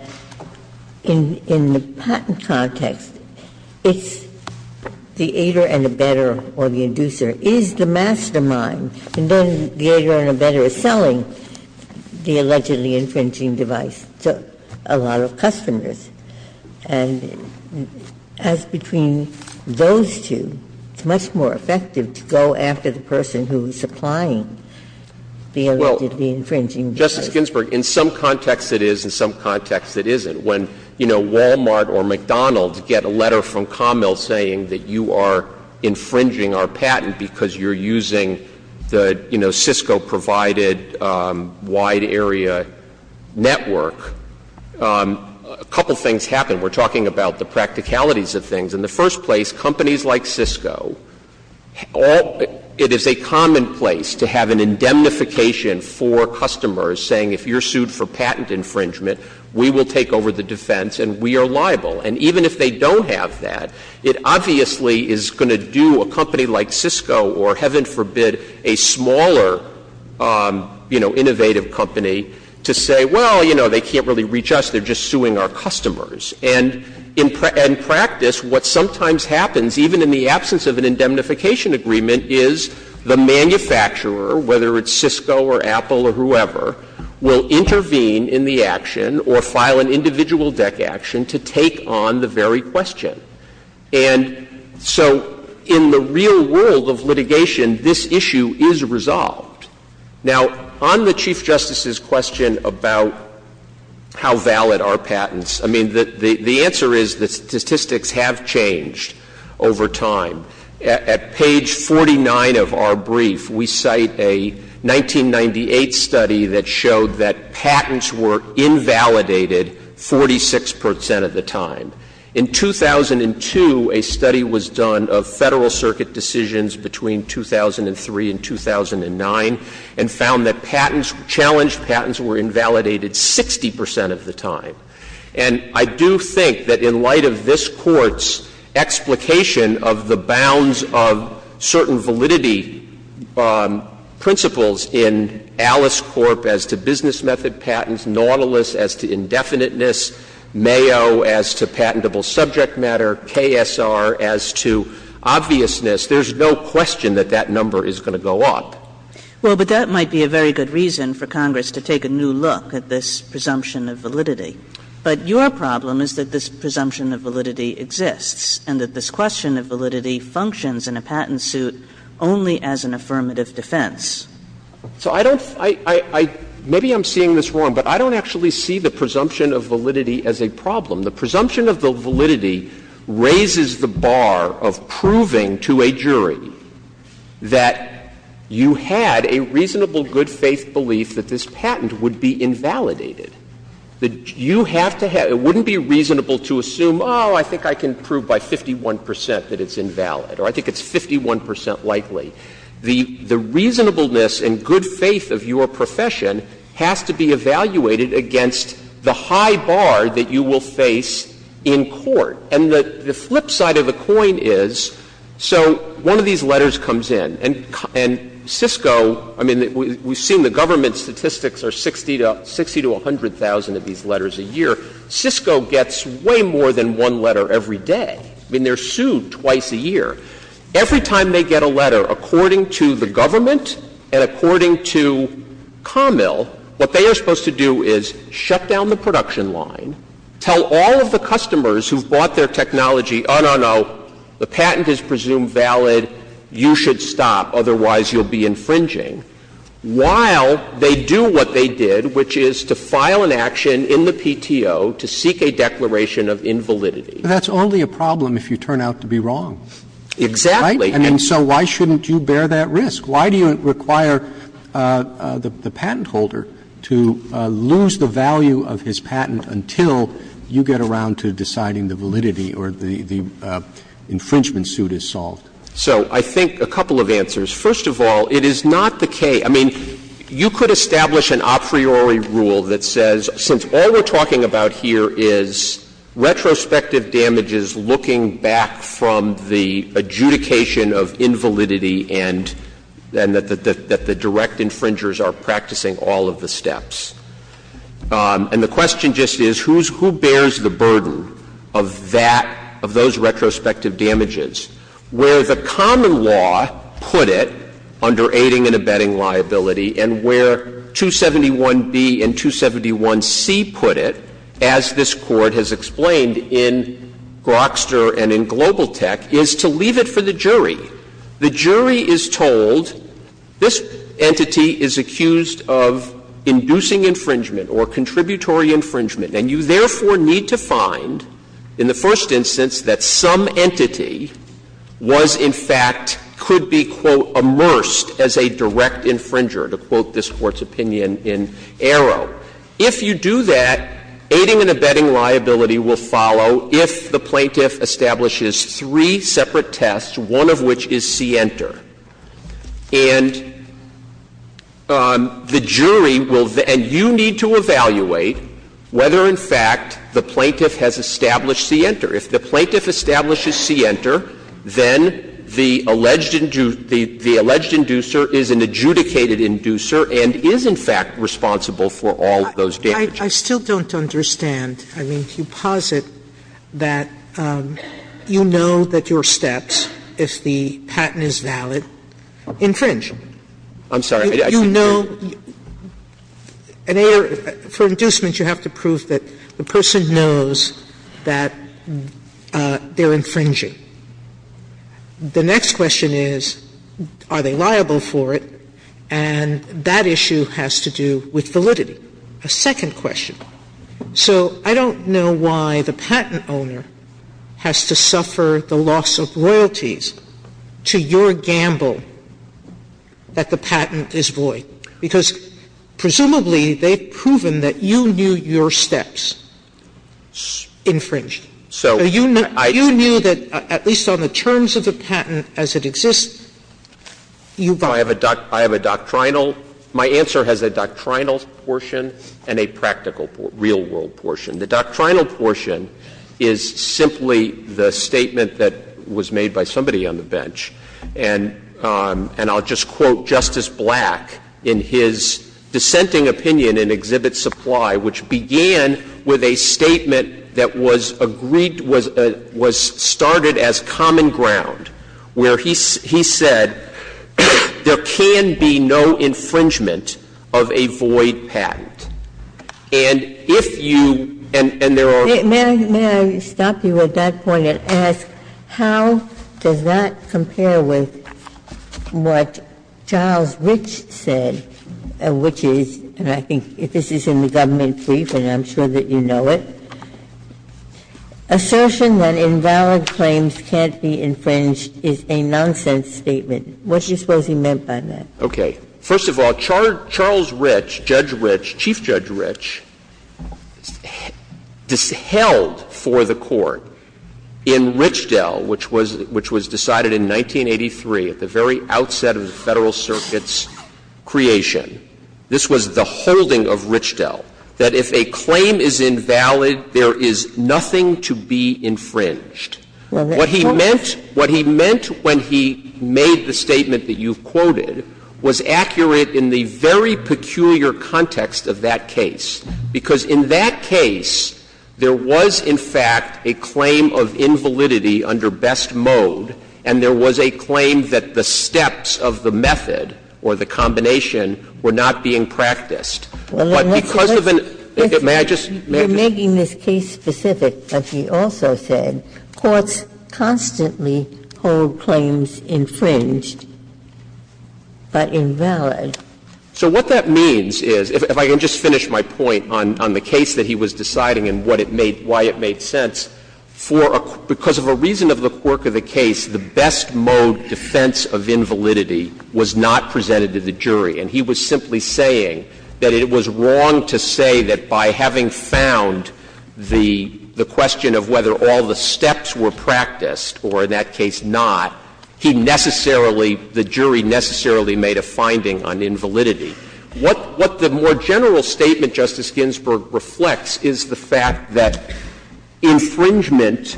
in the patent context, it's the aider and abetter or the inducer is the mastermind, and then the aider and abetter is selling the allegedly infringing device to a lot of customers. And as between those two, it's much more effective to go after the person who is supplying the allegedly infringing device. Well, Justice Ginsburg, in some context it is, in some context it isn't. When, you know, Walmart or McDonald's get a letter from Commil saying that you are infringing our patent because you're using the, you know, Cisco-provided wide area network, a couple things happen. We're talking about the practicalities of things. In the first place, companies like Cisco, it is a commonplace to have an indemnification for customers saying if you're sued for patent infringement, we will take over the defense and we are liable. And even if they don't have that, it obviously is going to do a company like Cisco or, heaven forbid, a smaller, you know, innovative company to say, well, you know, they can't really reach us, they're just suing our customers. And in practice, what sometimes happens, even in the absence of an indemnification agreement, is the manufacturer, whether it's Cisco or Apple or whoever, will intervene in the action or file an individual deck action to take on the very question. And so in the real world of litigation, this issue is resolved. Now, on the Chief Justice's question about how valid are patents, I mean, the real answer is that statistics have changed over time. At page 49 of our brief, we cite a 1998 study that showed that patents were invalidated 46 percent of the time. In 2002, a study was done of Federal Circuit decisions between 2003 and 2009 and found that patents, challenged patents, were invalidated 60 percent of the time. And I do think that in light of this Court's explication of the bounds of certain validity principles in Alice Corp. as to business method patents, Nautilus as to indefiniteness, Mayo as to patentable subject matter, KSR as to obviousness, there's no question that that number is going to go up. Kagan. Well, but that might be a very good reason for Congress to take a new look at this presumption of validity. But your problem is that this presumption of validity exists, and that this question of validity functions in a patent suit only as an affirmative defense. So I don't – I – maybe I'm seeing this wrong, but I don't actually see the presumption of validity as a problem. The presumption of the validity raises the bar of proving to a jury that you had a reasonable good faith belief that this patent would be invalidated. You have to have – it wouldn't be reasonable to assume, oh, I think I can prove by 51 percent that it's invalid, or I think it's 51 percent likely. The reasonableness and good faith of your profession has to be evaluated against the high bar that you will face in court. And the flip side of the coin is, so one of these letters comes in, and Cisco – I mean, we've seen the government statistics are 60 to 100,000 of these letters a year. Cisco gets way more than one letter every day. I mean, they're sued twice a year. Every time they get a letter, according to the government and according to Camille, what they are supposed to do is shut down the production line, tell all of the customers who've bought their technology, oh, no, no, the patent is presumed valid, you should stop, otherwise you'll be infringing. While they do what they did, which is to file an action in the PTO to seek a declaration of invalidity. Roberts. That's only a problem if you turn out to be wrong. Exactly. Right? And so why shouldn't you bear that risk? Why do you require the patent holder to lose the value of his patent until you get around to deciding the validity or the infringement suit is solved? So I think a couple of answers. First of all, it is not the case — I mean, you could establish an a priori rule that says since all we're talking about here is retrospective damages looking back from the adjudication of invalidity and that the direct infringers are practicing all of the steps. And the question just is who bears the burden of that, of those retrospective damages, where the common law put it under aiding and abetting liability, and where 271B and 271C put it, as this Court has explained in Grokster and in Global Tech, is to leave it for the jury. The jury is told this entity is accused of inducing infringement or contributory infringement, and you therefore need to find, in the first instance, that some entity was, in fact, could be, quote, immersed as a direct infringer, to quote this Court's opinion in Arrow. If you do that, aiding and abetting liability will follow if the plaintiff establishes three separate tests, one of which is C-enter. And the jury will then you need to evaluate whether, in fact, the plaintiff has established C-enter. If the plaintiff establishes C-enter, then the alleged inducer is an adjudicated inducer and is, in fact, responsible for all of those damages. Sotomayor, I still don't understand. I mean, you posit that you know that your steps, if the patent is valid, infringe. I'm sorry. You know, for inducement, you have to prove that the person knows that they are infringing. The next question is, are they liable for it, and that issue has to do with validity. A second question. So I don't know why the patent owner has to suffer the loss of royalties to your gamble that the patent is void, because presumably they've proven that you knew your steps infringed. So you knew that, at least on the terms of the patent as it exists, you violated it. I have a doctrinal — my answer has a doctrinal portion and a practical real-world portion. The doctrinal portion is simply the statement that was made by somebody on the bench. And I'll just quote Justice Black in his dissenting opinion in Exhibit Supply, which began with a statement that was agreed — was started as common ground, where he said there can be no infringement of a void patent. And if you — and there are — Ginsburg, may I stop you at that point and ask, how does that compare with what Charles Rich said, which is, and I think this is in the government brief and I'm sure that you know it, assertion that invalid claims can't be infringed is a nonsense statement. What do you suppose he meant by that? Waxman. Okay. First of all, Charles Rich, Judge Rich, Chief Judge Rich, held for the Court in Richdell, which was decided in 1983 at the very outset of the Federal Circuit's creation, this was the holding of Richdell, that if a claim is invalid, there is nothing to be infringed. What he meant — what he meant when he made the statement that you've quoted was accurate in the very peculiar context of that case, because in that case there was, in fact, a claim of invalidity under best mode, and there was a claim that the steps of the method or the combination were not being practiced. But because of an — may I just — You're making this case specific, but he also said, courts constantly hold claims infringed, but invalid. So what that means is, if I can just finish my point on the case that he was deciding and what it made — why it made sense, for a — because of a reason of the quirk of the case, the best mode defense of invalidity was not presented to the jury. And he was simply saying that it was wrong to say that by having found the question of whether all the steps were practiced, or in that case not, he necessarily — the jury necessarily made a finding on invalidity. What the more general statement, Justice Ginsburg, reflects is the fact that infringement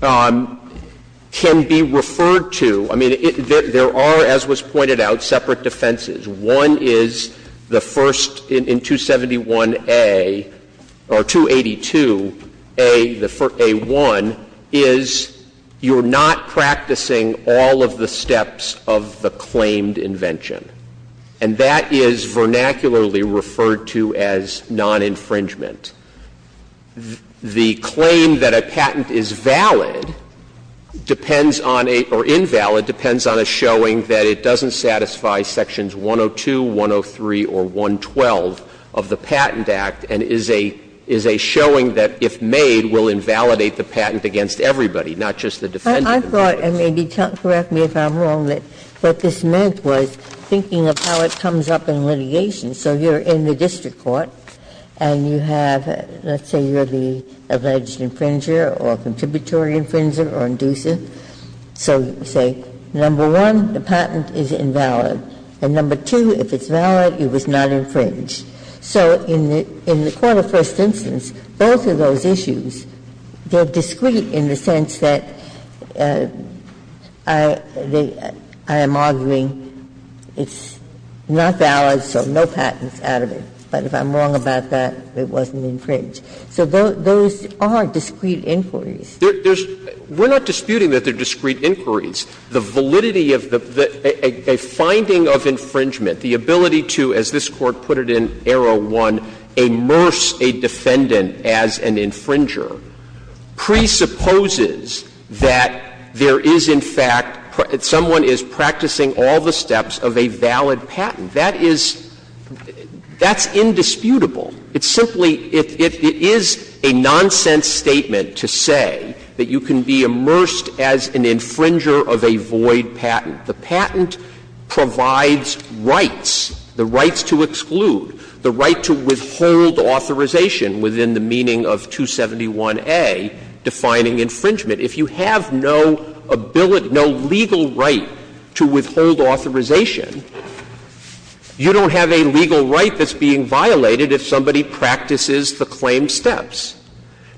can be referred to — I mean, there are, as was pointed out, separate defenses. One is the first in 271A, or 282A, the first — A1, is you're not practicing all of the steps of the claimed invention. And that is vernacularly referred to as non-infringement. The claim that a patent is valid depends on a — or invalid depends on a showing that it doesn't satisfy sections 102, 103, or 112 of the Patent Act and is a — is a showing that, if made, will invalidate the patent against everybody, not just the defendant. Ginsburg. I thought, and maybe correct me if I'm wrong, that what this meant was, thinking of how it comes up in litigation. So you're in the district court, and you have — let's say you're the alleged infringer or contributory infringer or inducer. So you say, number one, the patent is invalid, and number two, if it's valid, it was not infringed. So in the — in the quarter first instance, both of those issues, they're discreet in the sense that I — they — I am arguing it's not valid, so no patent can be made out of it. But if I'm wrong about that, it wasn't infringed. So those are discrete inquiries. Waxman. There's — we're not disputing that they're discrete inquiries. The validity of the — a finding of infringement, the ability to, as this Court put it in Arrow 1, immerse a defendant as an infringer, presupposes that there is, in fact, someone is practicing all the steps of a valid patent. That is — that's indisputable. It's simply — it is a nonsense statement to say that you can be immersed as an infringer of a void patent. The patent provides rights, the rights to exclude, the right to withhold authorization within the meaning of 271A, defining infringement. If you have no ability, no legal right to withhold authorization, you don't have a legal right that's being violated if somebody practices the claimed steps.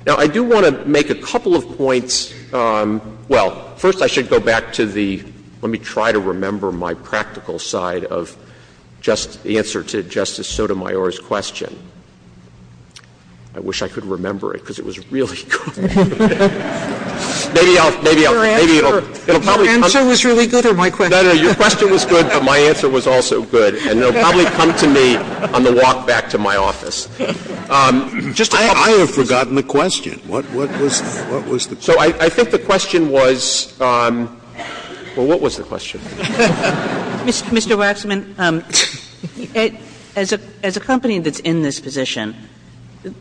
Now, I do want to make a couple of points. Well, first I should go back to the — let me try to remember my practical side of just the answer to Justice Sotomayor's question. I wish I could remember it, because it was really good. Maybe I'll — maybe I'll — maybe it'll probably come to me. Sotomayor, your answer was really good, or my question? No, no, your question was good, but my answer was also good, and it'll probably come to me on the walk back to my office. I have forgotten the question. What was the question? So I think the question was — well, what was the question? Mr. Waxman, as a company that's in this position,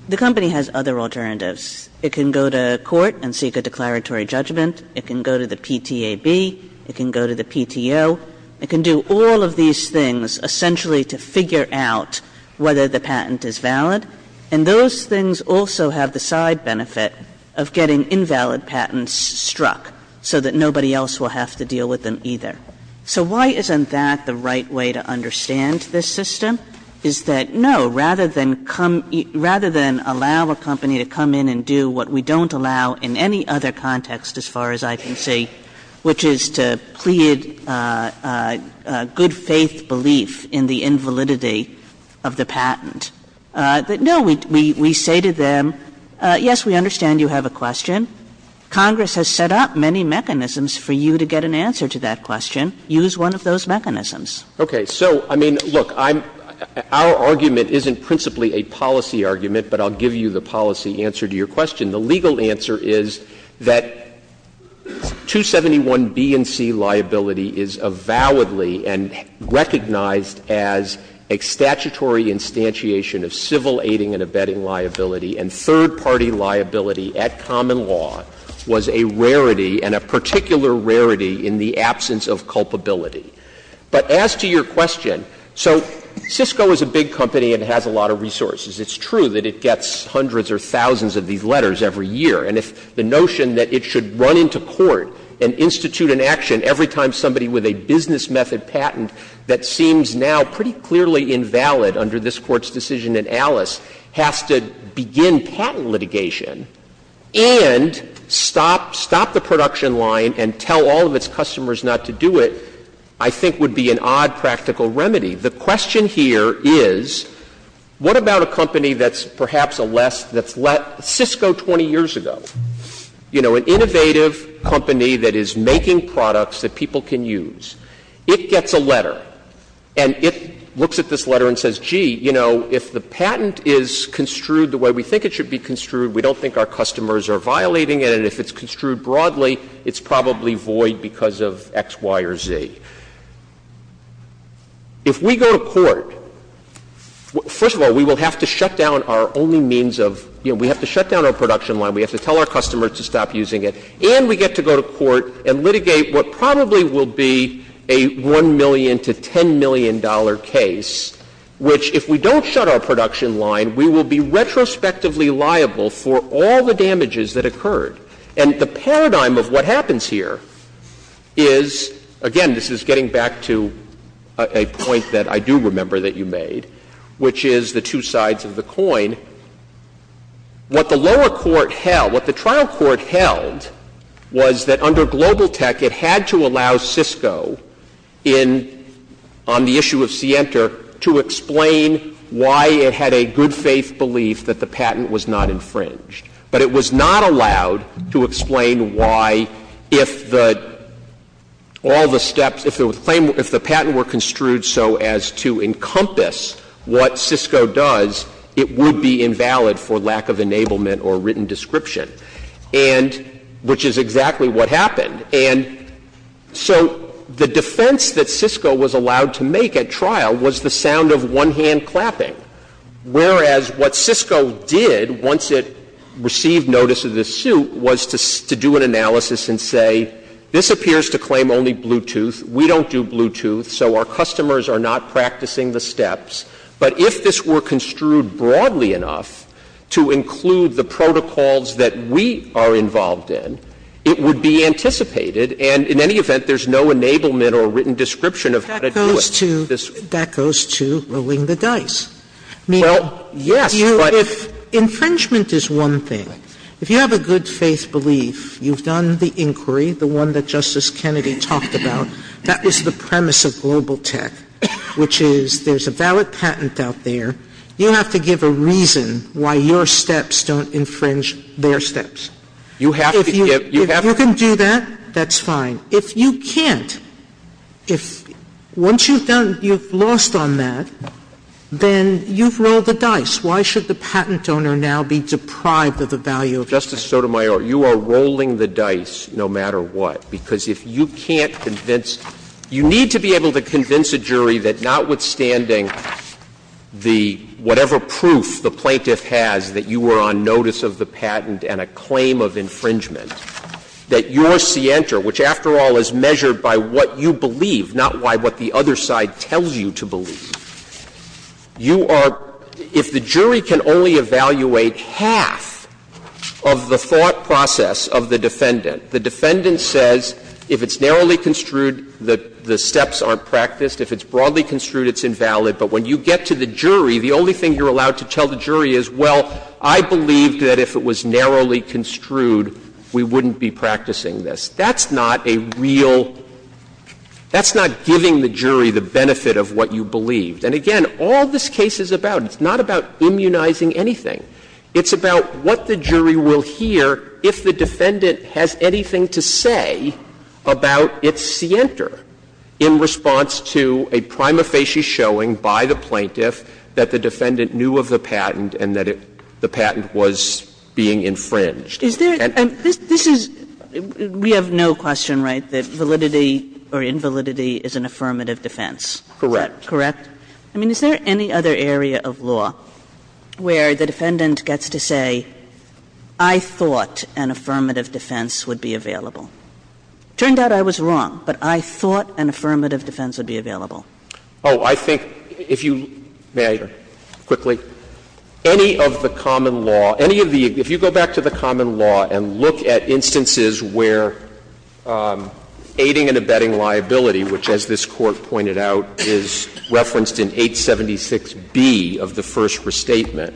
the company has other alternatives. It can go to court and seek a declaratory judgment. It can go to the PTAB. It can go to the PTO. It can do all of these things essentially to figure out whether the patent is valid, and those things also have the side benefit of getting invalid patents struck so that nobody else will have to deal with them either. So why isn't that the right way to understand this system is that, no, rather than allow a company to come in and do what we don't allow in any other context, as far as I can see, which is to plead good-faith belief in the invalidity of the patent, that, no, we say to them, yes, we understand you have a question. Congress has set up many mechanisms for you to get an answer to that question. Use one of those mechanisms. Okay. So, I mean, look, I'm — our argument isn't principally a policy argument, but I'll give you the policy answer to your question. The legal answer is that 271B and C liability is avowedly and recognized as a statutory instantiation of civil aiding and abetting liability, and third-party liability at common law was a rarity and a particular rarity in the absence of culpability. But as to your question, so Cisco is a big company and has a lot of resources. It's true that it gets hundreds or thousands of these letters every year. And if the notion that it should run into court and institute an action every time somebody with a business method patent that seems now pretty clearly invalid under this Court's decision in Alice has to begin patent litigation and stop — stop the I think would be an odd practical remedy. The question here is, what about a company that's perhaps a less — that's let — Cisco 20 years ago? You know, an innovative company that is making products that people can use. It gets a letter, and it looks at this letter and says, gee, you know, if the patent is construed the way we think it should be construed, we don't think our customers are violating it, and if it's construed broadly, it's probably void because of X, Y, or Z. If we go to court, first of all, we will have to shut down our only means of — you know, we have to shut down our production line. We have to tell our customers to stop using it. And we get to go to court and litigate what probably will be a $1 million to $10 million case, which, if we don't shut our production line, we will be retrospectively liable for all the damages that occurred. And the paradigm of what happens here is — again, this is getting back to a point that I do remember that you made, which is the two sides of the coin. What the lower court held — what the trial court held was that under Global Tech, it had to allow Cisco in — on the issue of Sienta to explain why it had a good-faith belief that the patent was not infringed. But it was not allowed to explain why, if the — all the steps — if the claim — if the patent were construed so as to encompass what Cisco does, it would be invalid for lack of enablement or written description, and — which is exactly what happened. And so the defense that Cisco was allowed to make at trial was the sound of one-hand clapping, whereas what Cisco did, once it received notice of the suit, was to do an analysis and say, this appears to claim only Bluetooth, we don't do Bluetooth, so our customers are not practicing the steps, but if this were construed broadly enough to include the protocols that we are involved in, it would be anticipated. And in any event, there's no enablement or written description of how to do it. Sotomayor, if you have a good-faith belief, you've done the inquiry, the one that Justice Kennedy talked about, that was the premise of Global Tech, which is there's a valid patent out there, you have to give a reason why your steps don't infringe their steps. If you — if you can do that, that's fine. If you can't, if — once you've done — you've lost on that, then you've rolled the dice. Why should the patent owner now be deprived of the value of that? Justice Sotomayor, you are rolling the dice no matter what, because if you can't convince — you need to be able to convince a jury that notwithstanding the — whatever proof the plaintiff has that you were on notice of the patent and a claim of infringement, that your scienter, which, after all, is measured by what you believe, not by what the other side tells you to believe, you are — if the jury can only evaluate half of the thought process of the defendant, the defendant says if it's narrowly construed, the steps aren't practiced, if it's broadly construed, it's invalid, but when you get to the jury, the only thing you're allowed to tell the jury is, well, I believe that if it was narrowly construed, we wouldn't be practicing this. That's not a real — that's not giving the jury the benefit of what you believed. And again, all this case is about, it's not about immunizing anything. It's about what the jury will hear if the defendant has anything to say about its scienter in response to a prima facie showing by the plaintiff that the defendant knew of the patent and that the patent was being infringed. And this is — we have no question, right, that validity or invalidity is an affirmative defense? Correct. Correct? I mean, is there any other area of law where the defendant gets to say, I thought an affirmative defense would be available? Turned out I was wrong, but I thought an affirmative defense would be available. Oh, I think if you — may I — quickly? Any of the common law — any of the — if you go back to the common law and look at instances where aiding and abetting liability, which, as this Court pointed out, is referenced in 876B of the first restatement,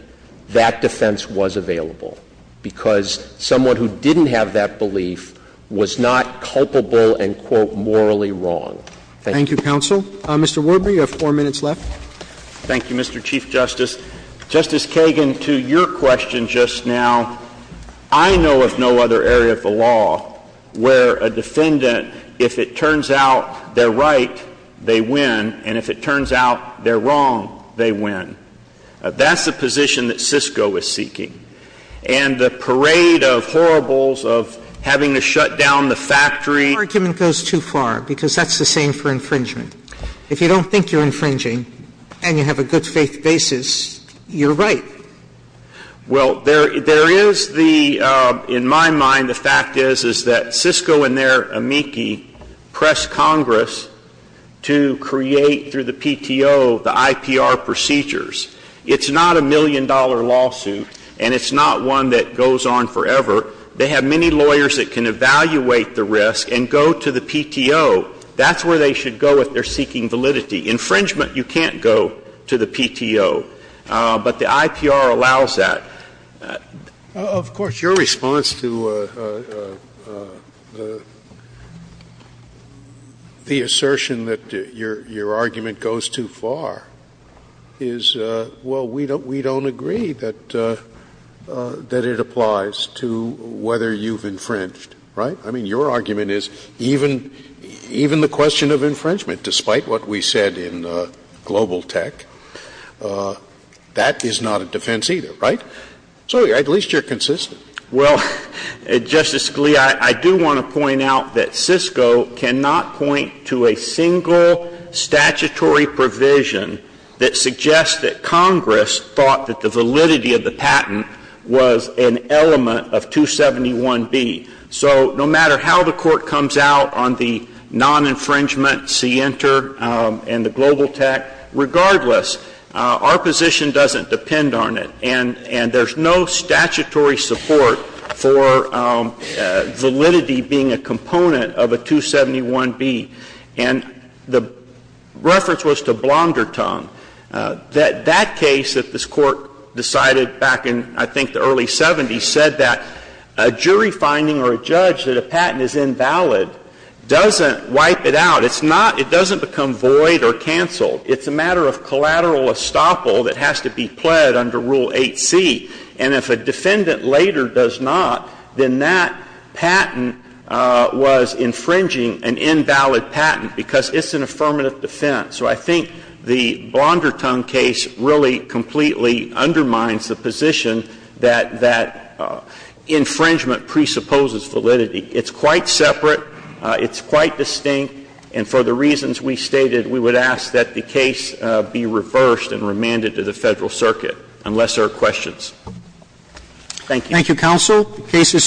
that defense was available, because someone who didn't have that belief was not culpable and, quote, morally wrong. Thank you. Thank you, counsel. Mr. Warby, you have four minutes left. Thank you, Mr. Chief Justice. Justice Kagan, to your question just now, I know of no other area of the law where a defendant, if it turns out they're right, they win, and if it turns out they're wrong, they win. That's the position that SISCO is seeking. And the parade of horribles, of having to shut down the factory — Your argument goes too far, because that's the same for infringement. If you don't think you're infringing and you have a good-faith basis, you're right. Well, there is the — in my mind, the fact is, is that SISCO and their amici press Congress to create, through the PTO, the IPR procedures. It's not a million-dollar lawsuit, and it's not one that goes on forever. They have many lawyers that can evaluate the risk and go to the PTO. That's where they should go if they're seeking validity. Infringement, you can't go to the PTO. But the IPR allows that. Of course, your response to the assertion that your argument goes too far is, well, we don't agree that it applies to whether you've infringed, right? I mean, your argument is even the question of infringement, despite what we said in Global Tech, that is not a defense either, right? So at least you're consistent. Well, Justice Scalia, I do want to point out that SISCO cannot point to a single statutory provision that suggests that Congress thought that the validity of the patent was an element of 271B. So no matter how the Court comes out on the non-infringement, see Enter and the Global Tech, regardless, our position doesn't depend on it. And there's no statutory support for validity being a component of a 271B. And the reference was to Blondertongue. That case that this Court decided back in, I think, the early 70s said that a jury finding or a judge that a patent is invalid doesn't wipe it out. It's not — it doesn't become void or canceled. It's a matter of collateral estoppel that has to be pled under Rule 8c. And if a defendant later does not, then that patent was infringing an invalid patent, because it's an affirmative defense. So I think the Blondertongue case really completely undermines the position that that infringement presupposes validity. It's quite separate, it's quite distinct, and for the reasons we stated, we would ask that the case be reversed and remanded to the Federal Circuit, unless there are questions. Thank you. Thank you, counsel. The case is submitted.